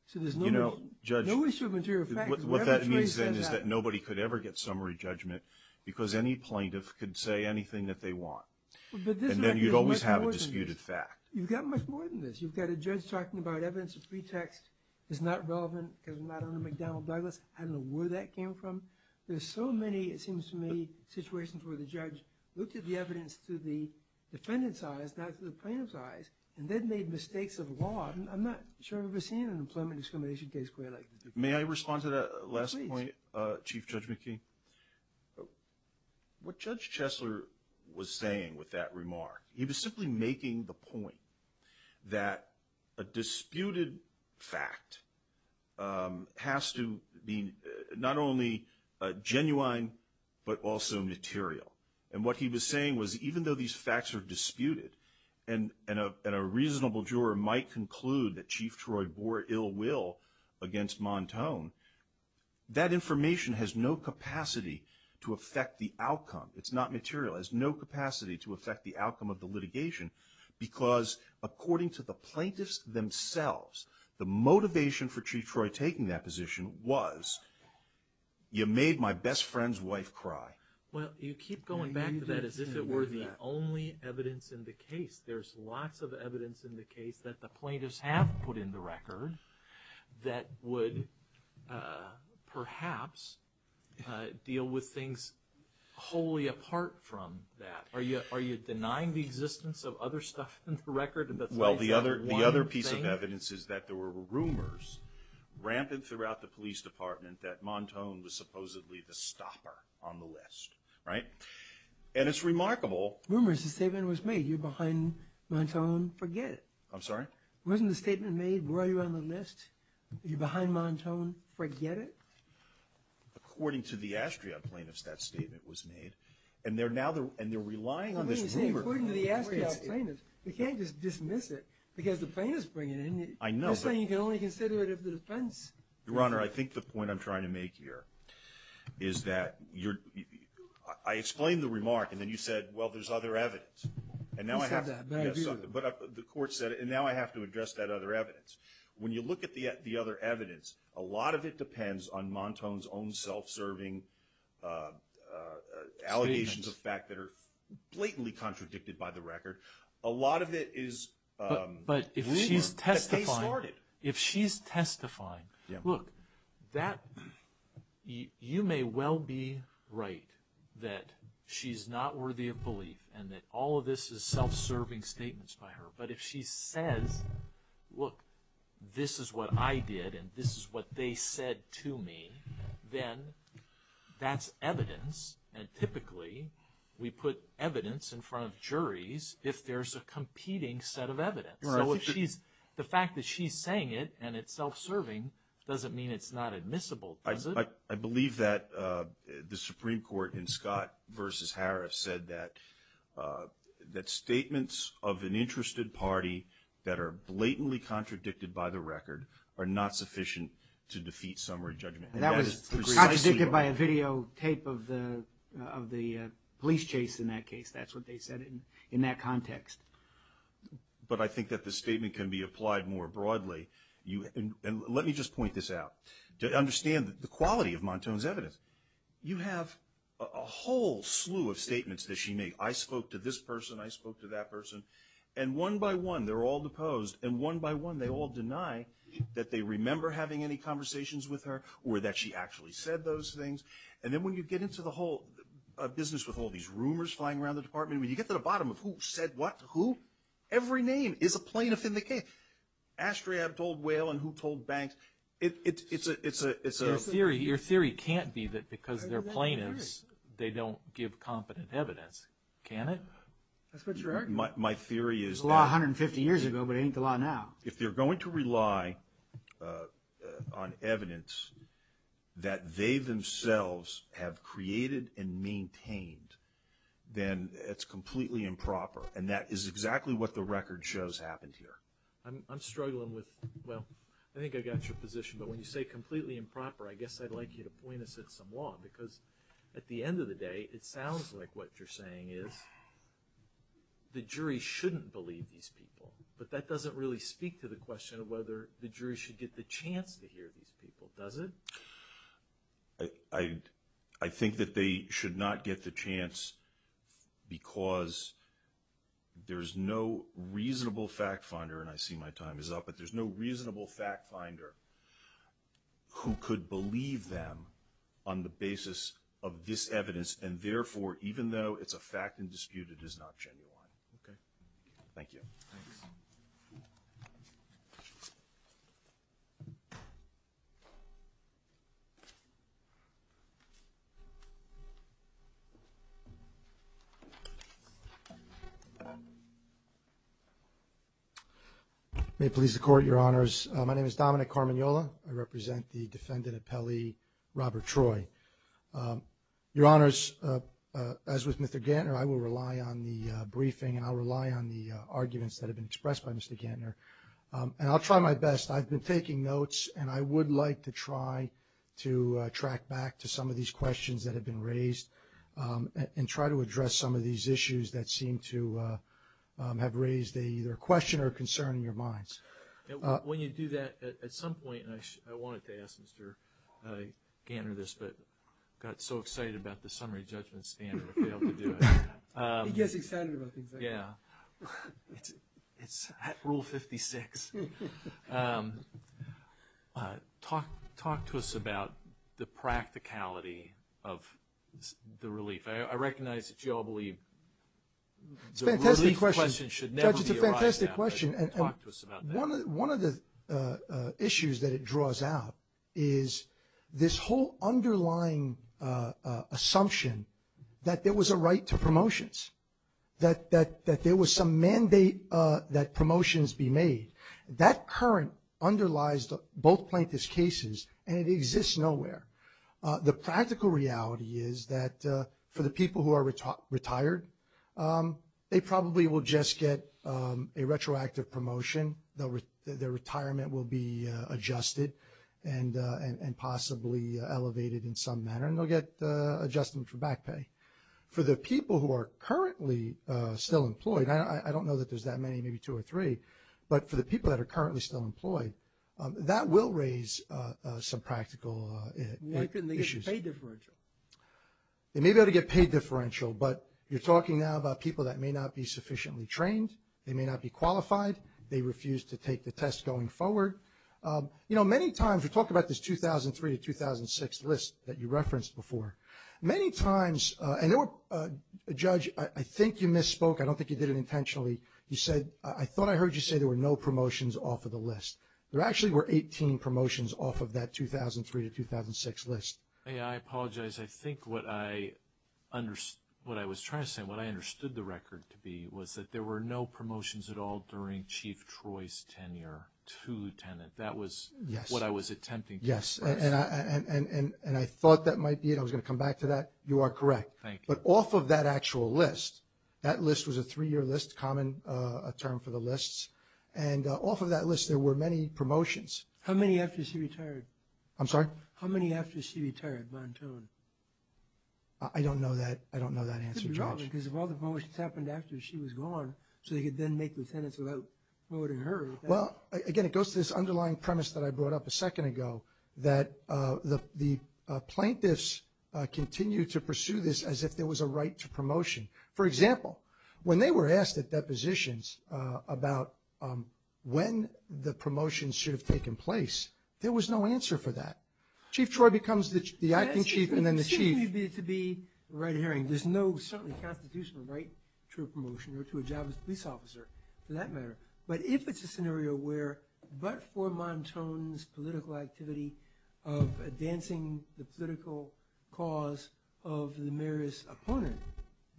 So there's no issue of material facts. Whatever choice he has. What that means then is that nobody could ever get summary judgment because any plaintiff could say anything that they want. And then you'd always have a disputed fact. You've got much more than this. You've got a judge talking about evidence of pretext is not relevant because it's not under McDonnell Douglas. I don't know where that came from. There's so many, it seems to me, situations where the judge looked at the evidence through the defendant's eyes, not through the plaintiff's eyes and then made mistakes of law. I'm not sure I've ever seen an employment discrimination case quite like this. May I respond to that last point, Chief Judge McKee? What Judge Chesler was saying with that remark, he was simply making the point that a disputed fact has to be not only genuine but also material. And what he was saying was even though these facts are disputed and a reasonable juror might conclude that Chief Troy bore ill will against Montone, that information has no capacity to affect the outcome. It's not material. It has no capacity to affect the outcome of the litigation because according to the plaintiffs themselves, the motivation for Chief Troy taking that position was you made my best friend's wife cry. Well, you keep going back to that as if it were the only evidence in the case. There's lots of evidence in the case that the plaintiffs have put in the record that would perhaps deal with things wholly apart from that. Are you denying the existence of other stuff in the record that's likely one thing? Well, the other piece of evidence is that there were rumors rampant throughout the police department that Montone was supposedly the stopper on the list, right? And it's remarkable. Rumors, the statement was made. You're behind Montone, forget it. I'm sorry? Wasn't the statement made, where are you on the list? You're behind Montone, forget it? According to the Astriot plaintiffs, that statement was made. And they're relying on this rumor. According to the Astriot plaintiffs, you can't just dismiss it, because the plaintiff's bringing it in. I know, but. You're saying you can only consider it of the defense. Your Honor, I think the point I'm trying to make here is that I explained the remark, and then you said, well, there's other evidence. And now I have to. You just have that bad view. The court said it, and now I have to address that other evidence. When you look at the other evidence, a lot of it depends on Montone's own self-serving allegations of fact that are blatantly contradicted by the record. A lot of it is. But if she's testifying. If she's testifying, look, you may well be right that she's not worthy of belief, and that all of this is self-serving statements by her. But if she says, look, this is what I did, and this is what they said to me, And typically, we put evidence in front of juries if there's a competing set of evidence. So if she's, the fact that she's saying it and it's self-serving doesn't mean it's not admissible, does it? I believe that the Supreme Court in Scott versus Harris said that statements of an interested party that are blatantly contradicted by the record are not sufficient to defeat summary judgment. And that is precisely why. That was contradicted by a videotape of the police chase in that case. That's what they said in that context. But I think that the statement can be applied more broadly. And let me just point this out. To understand the quality of Montone's evidence, you have a whole slew of statements that she made. I spoke to this person, I spoke to that person. And one by one, they're all deposed. And one by one, they all deny that they remember having any conversations with her or that she actually said those things. And then when you get into the whole business with all these rumors flying around the department, when you get to the bottom of who said what to who, every name is a plaintiff in the case. Astriab told Whale and who told Banks. It's a- Your theory can't be that because they're plaintiffs, they don't give competent evidence, can it? That's what you're arguing. My theory is- It was a law 150 years ago, but it ain't the law now. If they're going to rely on evidence that they themselves have created and maintained, then it's completely improper. And that is exactly what the record shows happened here. I'm struggling with, well, I think I got your position. But when you say completely improper, I guess I'd like you to point us at some law. Because at the end of the day, it sounds like what you're saying is the jury shouldn't believe these people. But that doesn't really speak to the question of whether the jury should get the chance to hear these people. Does it? I think that they should not get the chance because there's no reasonable fact finder, and I see my time is up, but there's no reasonable fact finder who could believe them on the basis of this evidence. And therefore, even though it's a fact in dispute, it is not genuine. Okay. Thank you. Thanks. Thank you. May it please the court, your honors. My name is Dominic Carminola. I represent the defendant at Pelley, Robert Troy. Your honors, as with Mr. Gantner, I will rely on the briefing and I'll rely on the arguments that have been expressed by Mr. Gantner. And I'll try my best. I've been taking notes and I would like to try to track back to some of these questions that have been raised and try to address some of these issues that seem to have raised either a question or a concern in your minds. When you do that, at some point, and I wanted to ask Mr. Gantner this, but got so excited about the summary judgment standard, I failed to do it. He gets excited about things like that. Yeah. It's rule 56. Talk to us about the practicality of the relief. I recognize that you all believe the relief question should never be a right now. It's a fantastic question. Talk to us about that. One of the issues that it draws out is this whole underlying assumption that there was a right to promotions, that there was some mandate that promotions be made. That current underlies both plaintiff's cases and it exists nowhere. The practical reality is that for the people who are retired, they probably will just get a retroactive promotion. Their retirement will be adjusted and possibly elevated in some manner and they'll get adjustment for back pay. For the people who are currently still employed, I don't know that there's that many, maybe two or three, but for the people that are currently still employed, that will raise some practical issues. Why couldn't they get paid differential? They may be able to get paid differential, but you're talking now about people that may not be sufficiently trained. They may not be qualified. They refuse to take the test going forward. You know, many times, we talk about this 2003 to 2006 list that you referenced before. Many times, and Judge, I think you misspoke. I don't think you did it intentionally. You said, I thought I heard you say there were no promotions off of the list. There actually were 18 promotions off of that 2003 to 2006 list. Hey, I apologize. I think what I was trying to say, what I understood the record to be was that there were no promotions at all during Chief Troy's tenure to Lieutenant. That was what I was attempting to express. Yes, and I thought that might be it. I was gonna come back to that. You are correct. Thank you. But off of that actual list, that list was a three-year list, common term for the lists, and off of that list, there were many promotions. How many after she retired? I'm sorry? How many after she retired, Montone? I don't know that answer, Judge. Could be wrong, because if all the promotions happened after she was gone, so they could then make lieutenants without voting her. Well, again, it goes to this underlying premise that I brought up a second ago, that the plaintiffs continue to pursue this as if there was a right to promotion. For example, when they were asked at depositions about when the promotions should have taken place, there was no answer for that. Chief Troy becomes the acting chief, and then the chief. It seems to me to be the right of hearing. There's no certain constitutional right to a promotion or to a job as a police officer, for that matter. But if it's a scenario where, but for Montone's political activity of advancing the political cause of Lemire's opponent,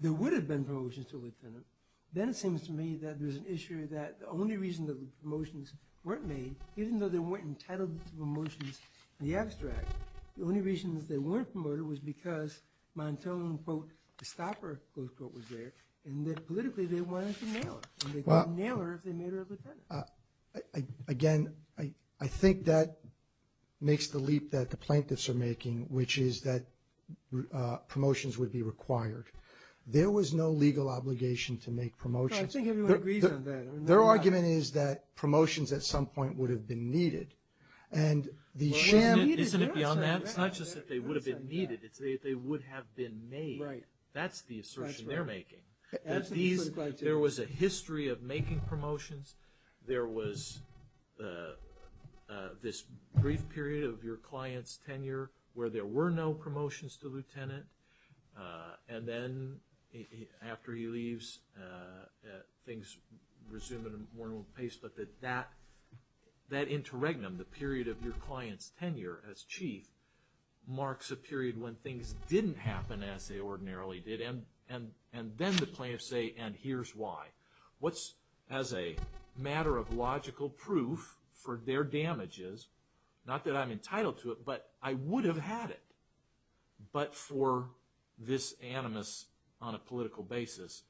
there would have been promotions to a lieutenant, then it seems to me that there's an issue that the only reason that the promotions weren't made, even though they weren't entitled to promotions in the abstract, the only reason that they weren't promoted was because Montone, quote, the stopper, close quote, was there, and that politically they wanted to nail her, and they could nail her if they made her a lieutenant. Again, I think that makes the leap that the plaintiffs are making, which is that promotions would be required. There was no legal obligation to make promotions. I think everyone agrees on that. Their argument is that promotions at some point would have been needed. And the sham. Isn't it beyond that? It's not just that they would have been needed. It's that they would have been made. That's the assertion they're making. There was a history of making promotions. There was this brief period of your client's tenure where there were no promotions to lieutenant, and then after he leaves, things resume at a more normal pace but that interregnum, the period of your client's tenure as chief marks a period when things didn't happen as they ordinarily did, and then the plaintiffs say, and here's why. What's as a matter of logical proof for their damages, not that I'm entitled to it, but I would have had it, but for this animus on a political basis.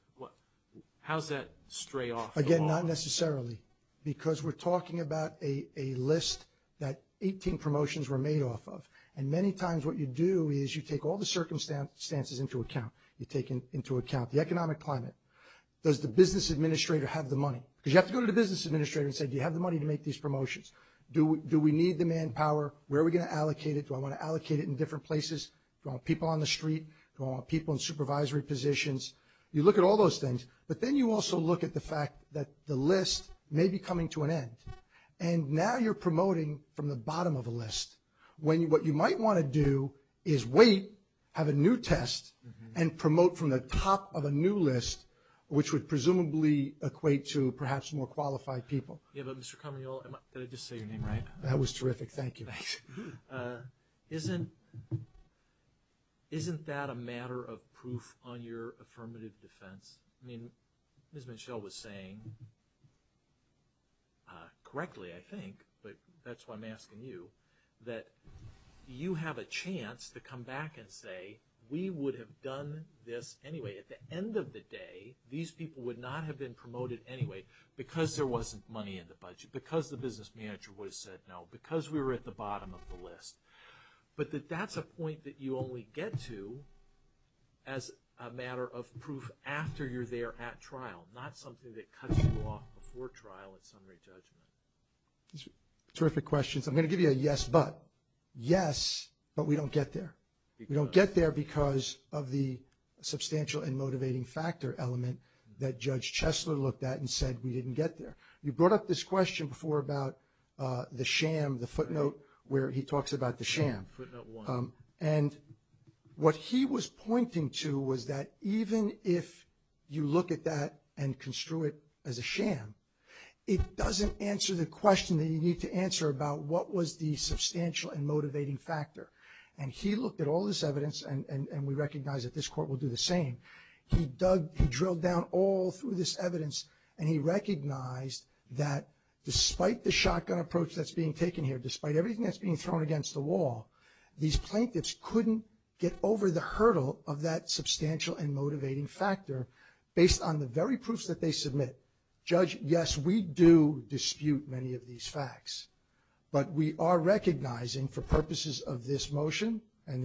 How's that stray off? Again, not necessarily, because we're talking about a list that 18 promotions were made off of. And many times what you do is you take all the circumstances into account. You take into account the economic climate. Does the business administrator have the money? Because you have to go to the business administrator and say, do you have the money to make these promotions? Do we need the manpower? Where are we going to allocate it? Do I want to allocate it in different places? Do I want people on the street? Do I want people in supervisory positions? You look at all those things, but then you also look at the fact that the list may be coming to an end, and now you're promoting from the bottom of a list when what you might want to do is wait, have a new test, and promote from the top of a new list, which would presumably equate to perhaps more qualified people. Yeah, but Mr. Conroy, did I just say your name right? That was terrific. Thank you. Thanks. Isn't that a matter of proof on your affirmative defense? I mean, Ms. Minchell was saying correctly, I think, but that's why I'm asking you, that you have a chance to come back and say, we would have done this anyway. At the end of the day, these people would not have been promoted anyway because there wasn't money in the budget, because the business manager would have said no, because we were at the bottom of the list, but that that's a point that you only get to as a matter of proof after you're there at trial, not something that cuts you off before trial and summary judgment. Terrific questions. I'm gonna give you a yes, but. Yes, but we don't get there. We don't get there because of the substantial and motivating factor element that Judge Chesler looked at and said we didn't get there. You brought up this question before about the sham, the footnote where he talks about the sham. Footnote one. And what he was pointing to was that even if you look at that and construe it as a sham, it doesn't answer the question that you need to answer about what was the substantial and motivating factor. And he looked at all this evidence and we recognize that this court will do the same. He drilled down all through this evidence and he recognized that despite the shotgun approach that's being taken here, despite everything that's being thrown against the wall, these plaintiffs couldn't get over the hurdle of that substantial and motivating factor based on the very proofs that they submit. Judge, yes, we do dispute many of these facts, but we are recognizing for purposes of this motion and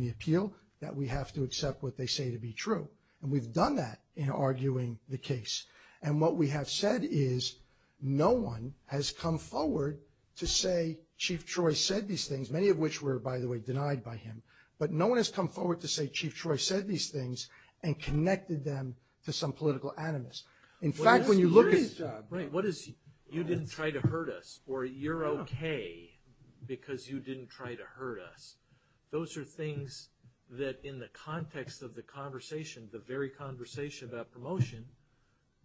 the appeal that we have to accept what they say to be true. And we've done that in arguing the case. And what we have said is no one has come forward to say Chief Troy said these things, many of which were, by the way, denied by him. But no one has come forward to say Chief Troy said these things and connected them to some political animus. In fact, when you look at. Right, what is, you didn't try to hurt us or you're okay because you didn't try to hurt us. Those are things that in the context of the conversation, the very conversation about promotion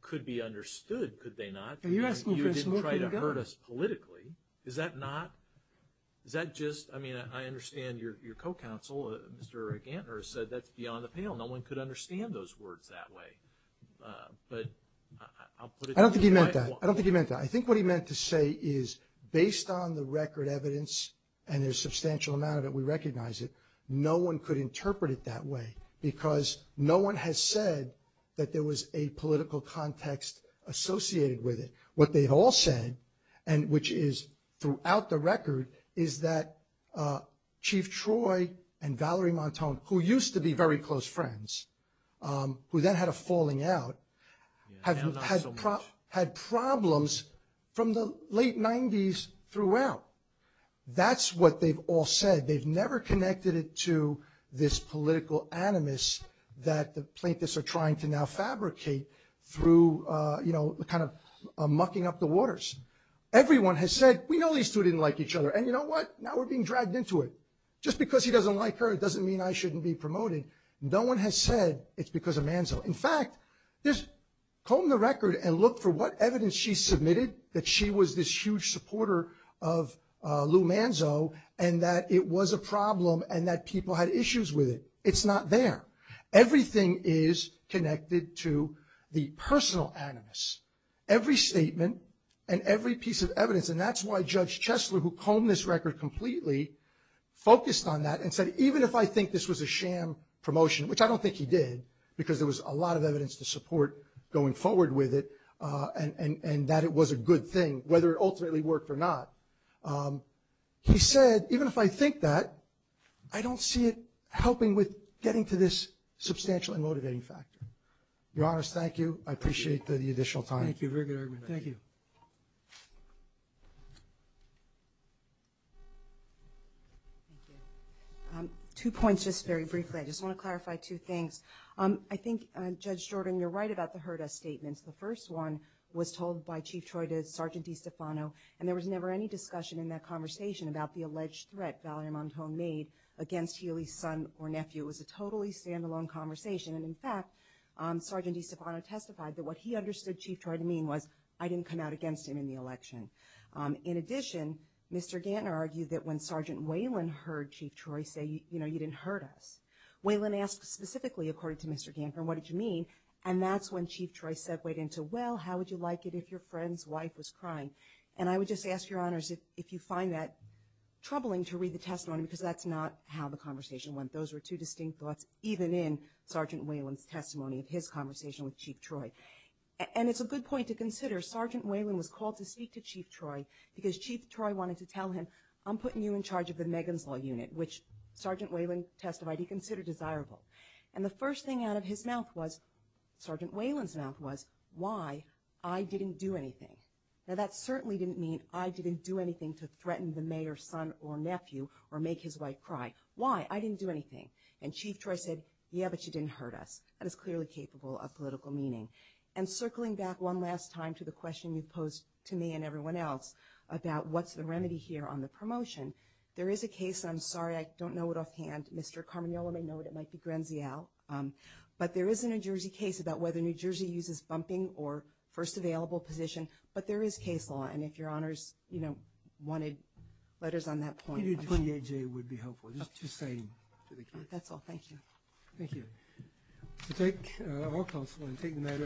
could be understood. Could they not? You didn't try to hurt us politically. Is that not, is that just, I mean, I understand your co-counsel, Mr. Gantner, said that's beyond the pale. No one could understand those words that way. But I'll put it to you. I don't think he meant that. I don't think he meant that. I think what he meant to say is based on the record evidence and there's substantial amount of it, and we recognize it, no one could interpret it that way because no one has said that there was a political context associated with it. What they've all said, which is throughout the record, is that Chief Troy and Valerie Montone, who used to be very close friends, who then had a falling out, had problems from the late 90s throughout. That's what they've all said. They've never connected it to this political animus that the plaintiffs are trying to now fabricate through kind of mucking up the waters. Everyone has said, we know these two didn't like each other. And you know what? Now we're being dragged into it. Just because he doesn't like her doesn't mean I shouldn't be promoted. No one has said it's because of Manzo. In fact, just comb the record and look for what evidence she submitted that she was this huge supporter of Lou Manzo and that it was a problem and that people had issues with it. It's not there. Everything is connected to the personal animus. Every statement and every piece of evidence. And that's why Judge Chesler, who combed this record completely, focused on that and said, even if I think this was a sham promotion, which I don't think he did because there was a lot of evidence to support going forward with it and that it was a good thing, whether it ultimately worked or not, he said, even if I think that, I don't see it helping with getting to this substantial and motivating factor. Your Honors, thank you. I appreciate the additional time. Thank you, very good argument. Thank you. Two points, just very briefly. I just want to clarify two things. I think, Judge Jordan, you're right about the heard-us statements. The first one was told by Chief Troy to Sergeant DiStefano, and there was never any discussion in that conversation about the alleged threat Valerie Montone made against Healy's son or nephew. It was a totally standalone conversation. And in fact, Sergeant DiStefano testified that what he understood Chief Troy to mean was, I didn't come out against him in the election. In addition, Mr. Gantner argued that when Sergeant Whalen heard Chief Troy say, you know, you didn't heard us, Whalen asked specifically, according to Mr. Gantner, what did you mean? And that's when Chief Troy segued into, well, how would you like it if your friend's wife was crying? And I would just ask your honors if you find that troubling to read the testimony, because that's not how the conversation went. Those were two distinct thoughts, even in Sergeant Whalen's testimony of his conversation with Chief Troy. And it's a good point to consider, Sergeant Whalen was called to speak to Chief Troy because Chief Troy wanted to tell him, I'm putting you in charge of the Megan's Law Unit, which Sergeant Whalen testified he considered desirable. And the first thing out of his mouth was, Sergeant Whalen's mouth was, why I didn't do anything? Now, that certainly didn't mean I didn't do anything to threaten the mayor's son or nephew or make his wife cry. Why? I didn't do anything. And Chief Troy said, yeah, but you didn't heard us. That is clearly capable of political meaning. And circling back one last time to the question you posed to me and everyone else about what's the remedy here on the promotion, there is a case, I'm sorry, I don't know it offhand, Mr. Carminello may know it, it might be Grenziel, but there is a New Jersey case about whether New Jersey uses bumping or first available position. But there is case law. And if your honors wanted letters on that point. 28J would be helpful, just to say to the committee. That's all, thank you. Thank you. To take all counsel and take the matter under advice.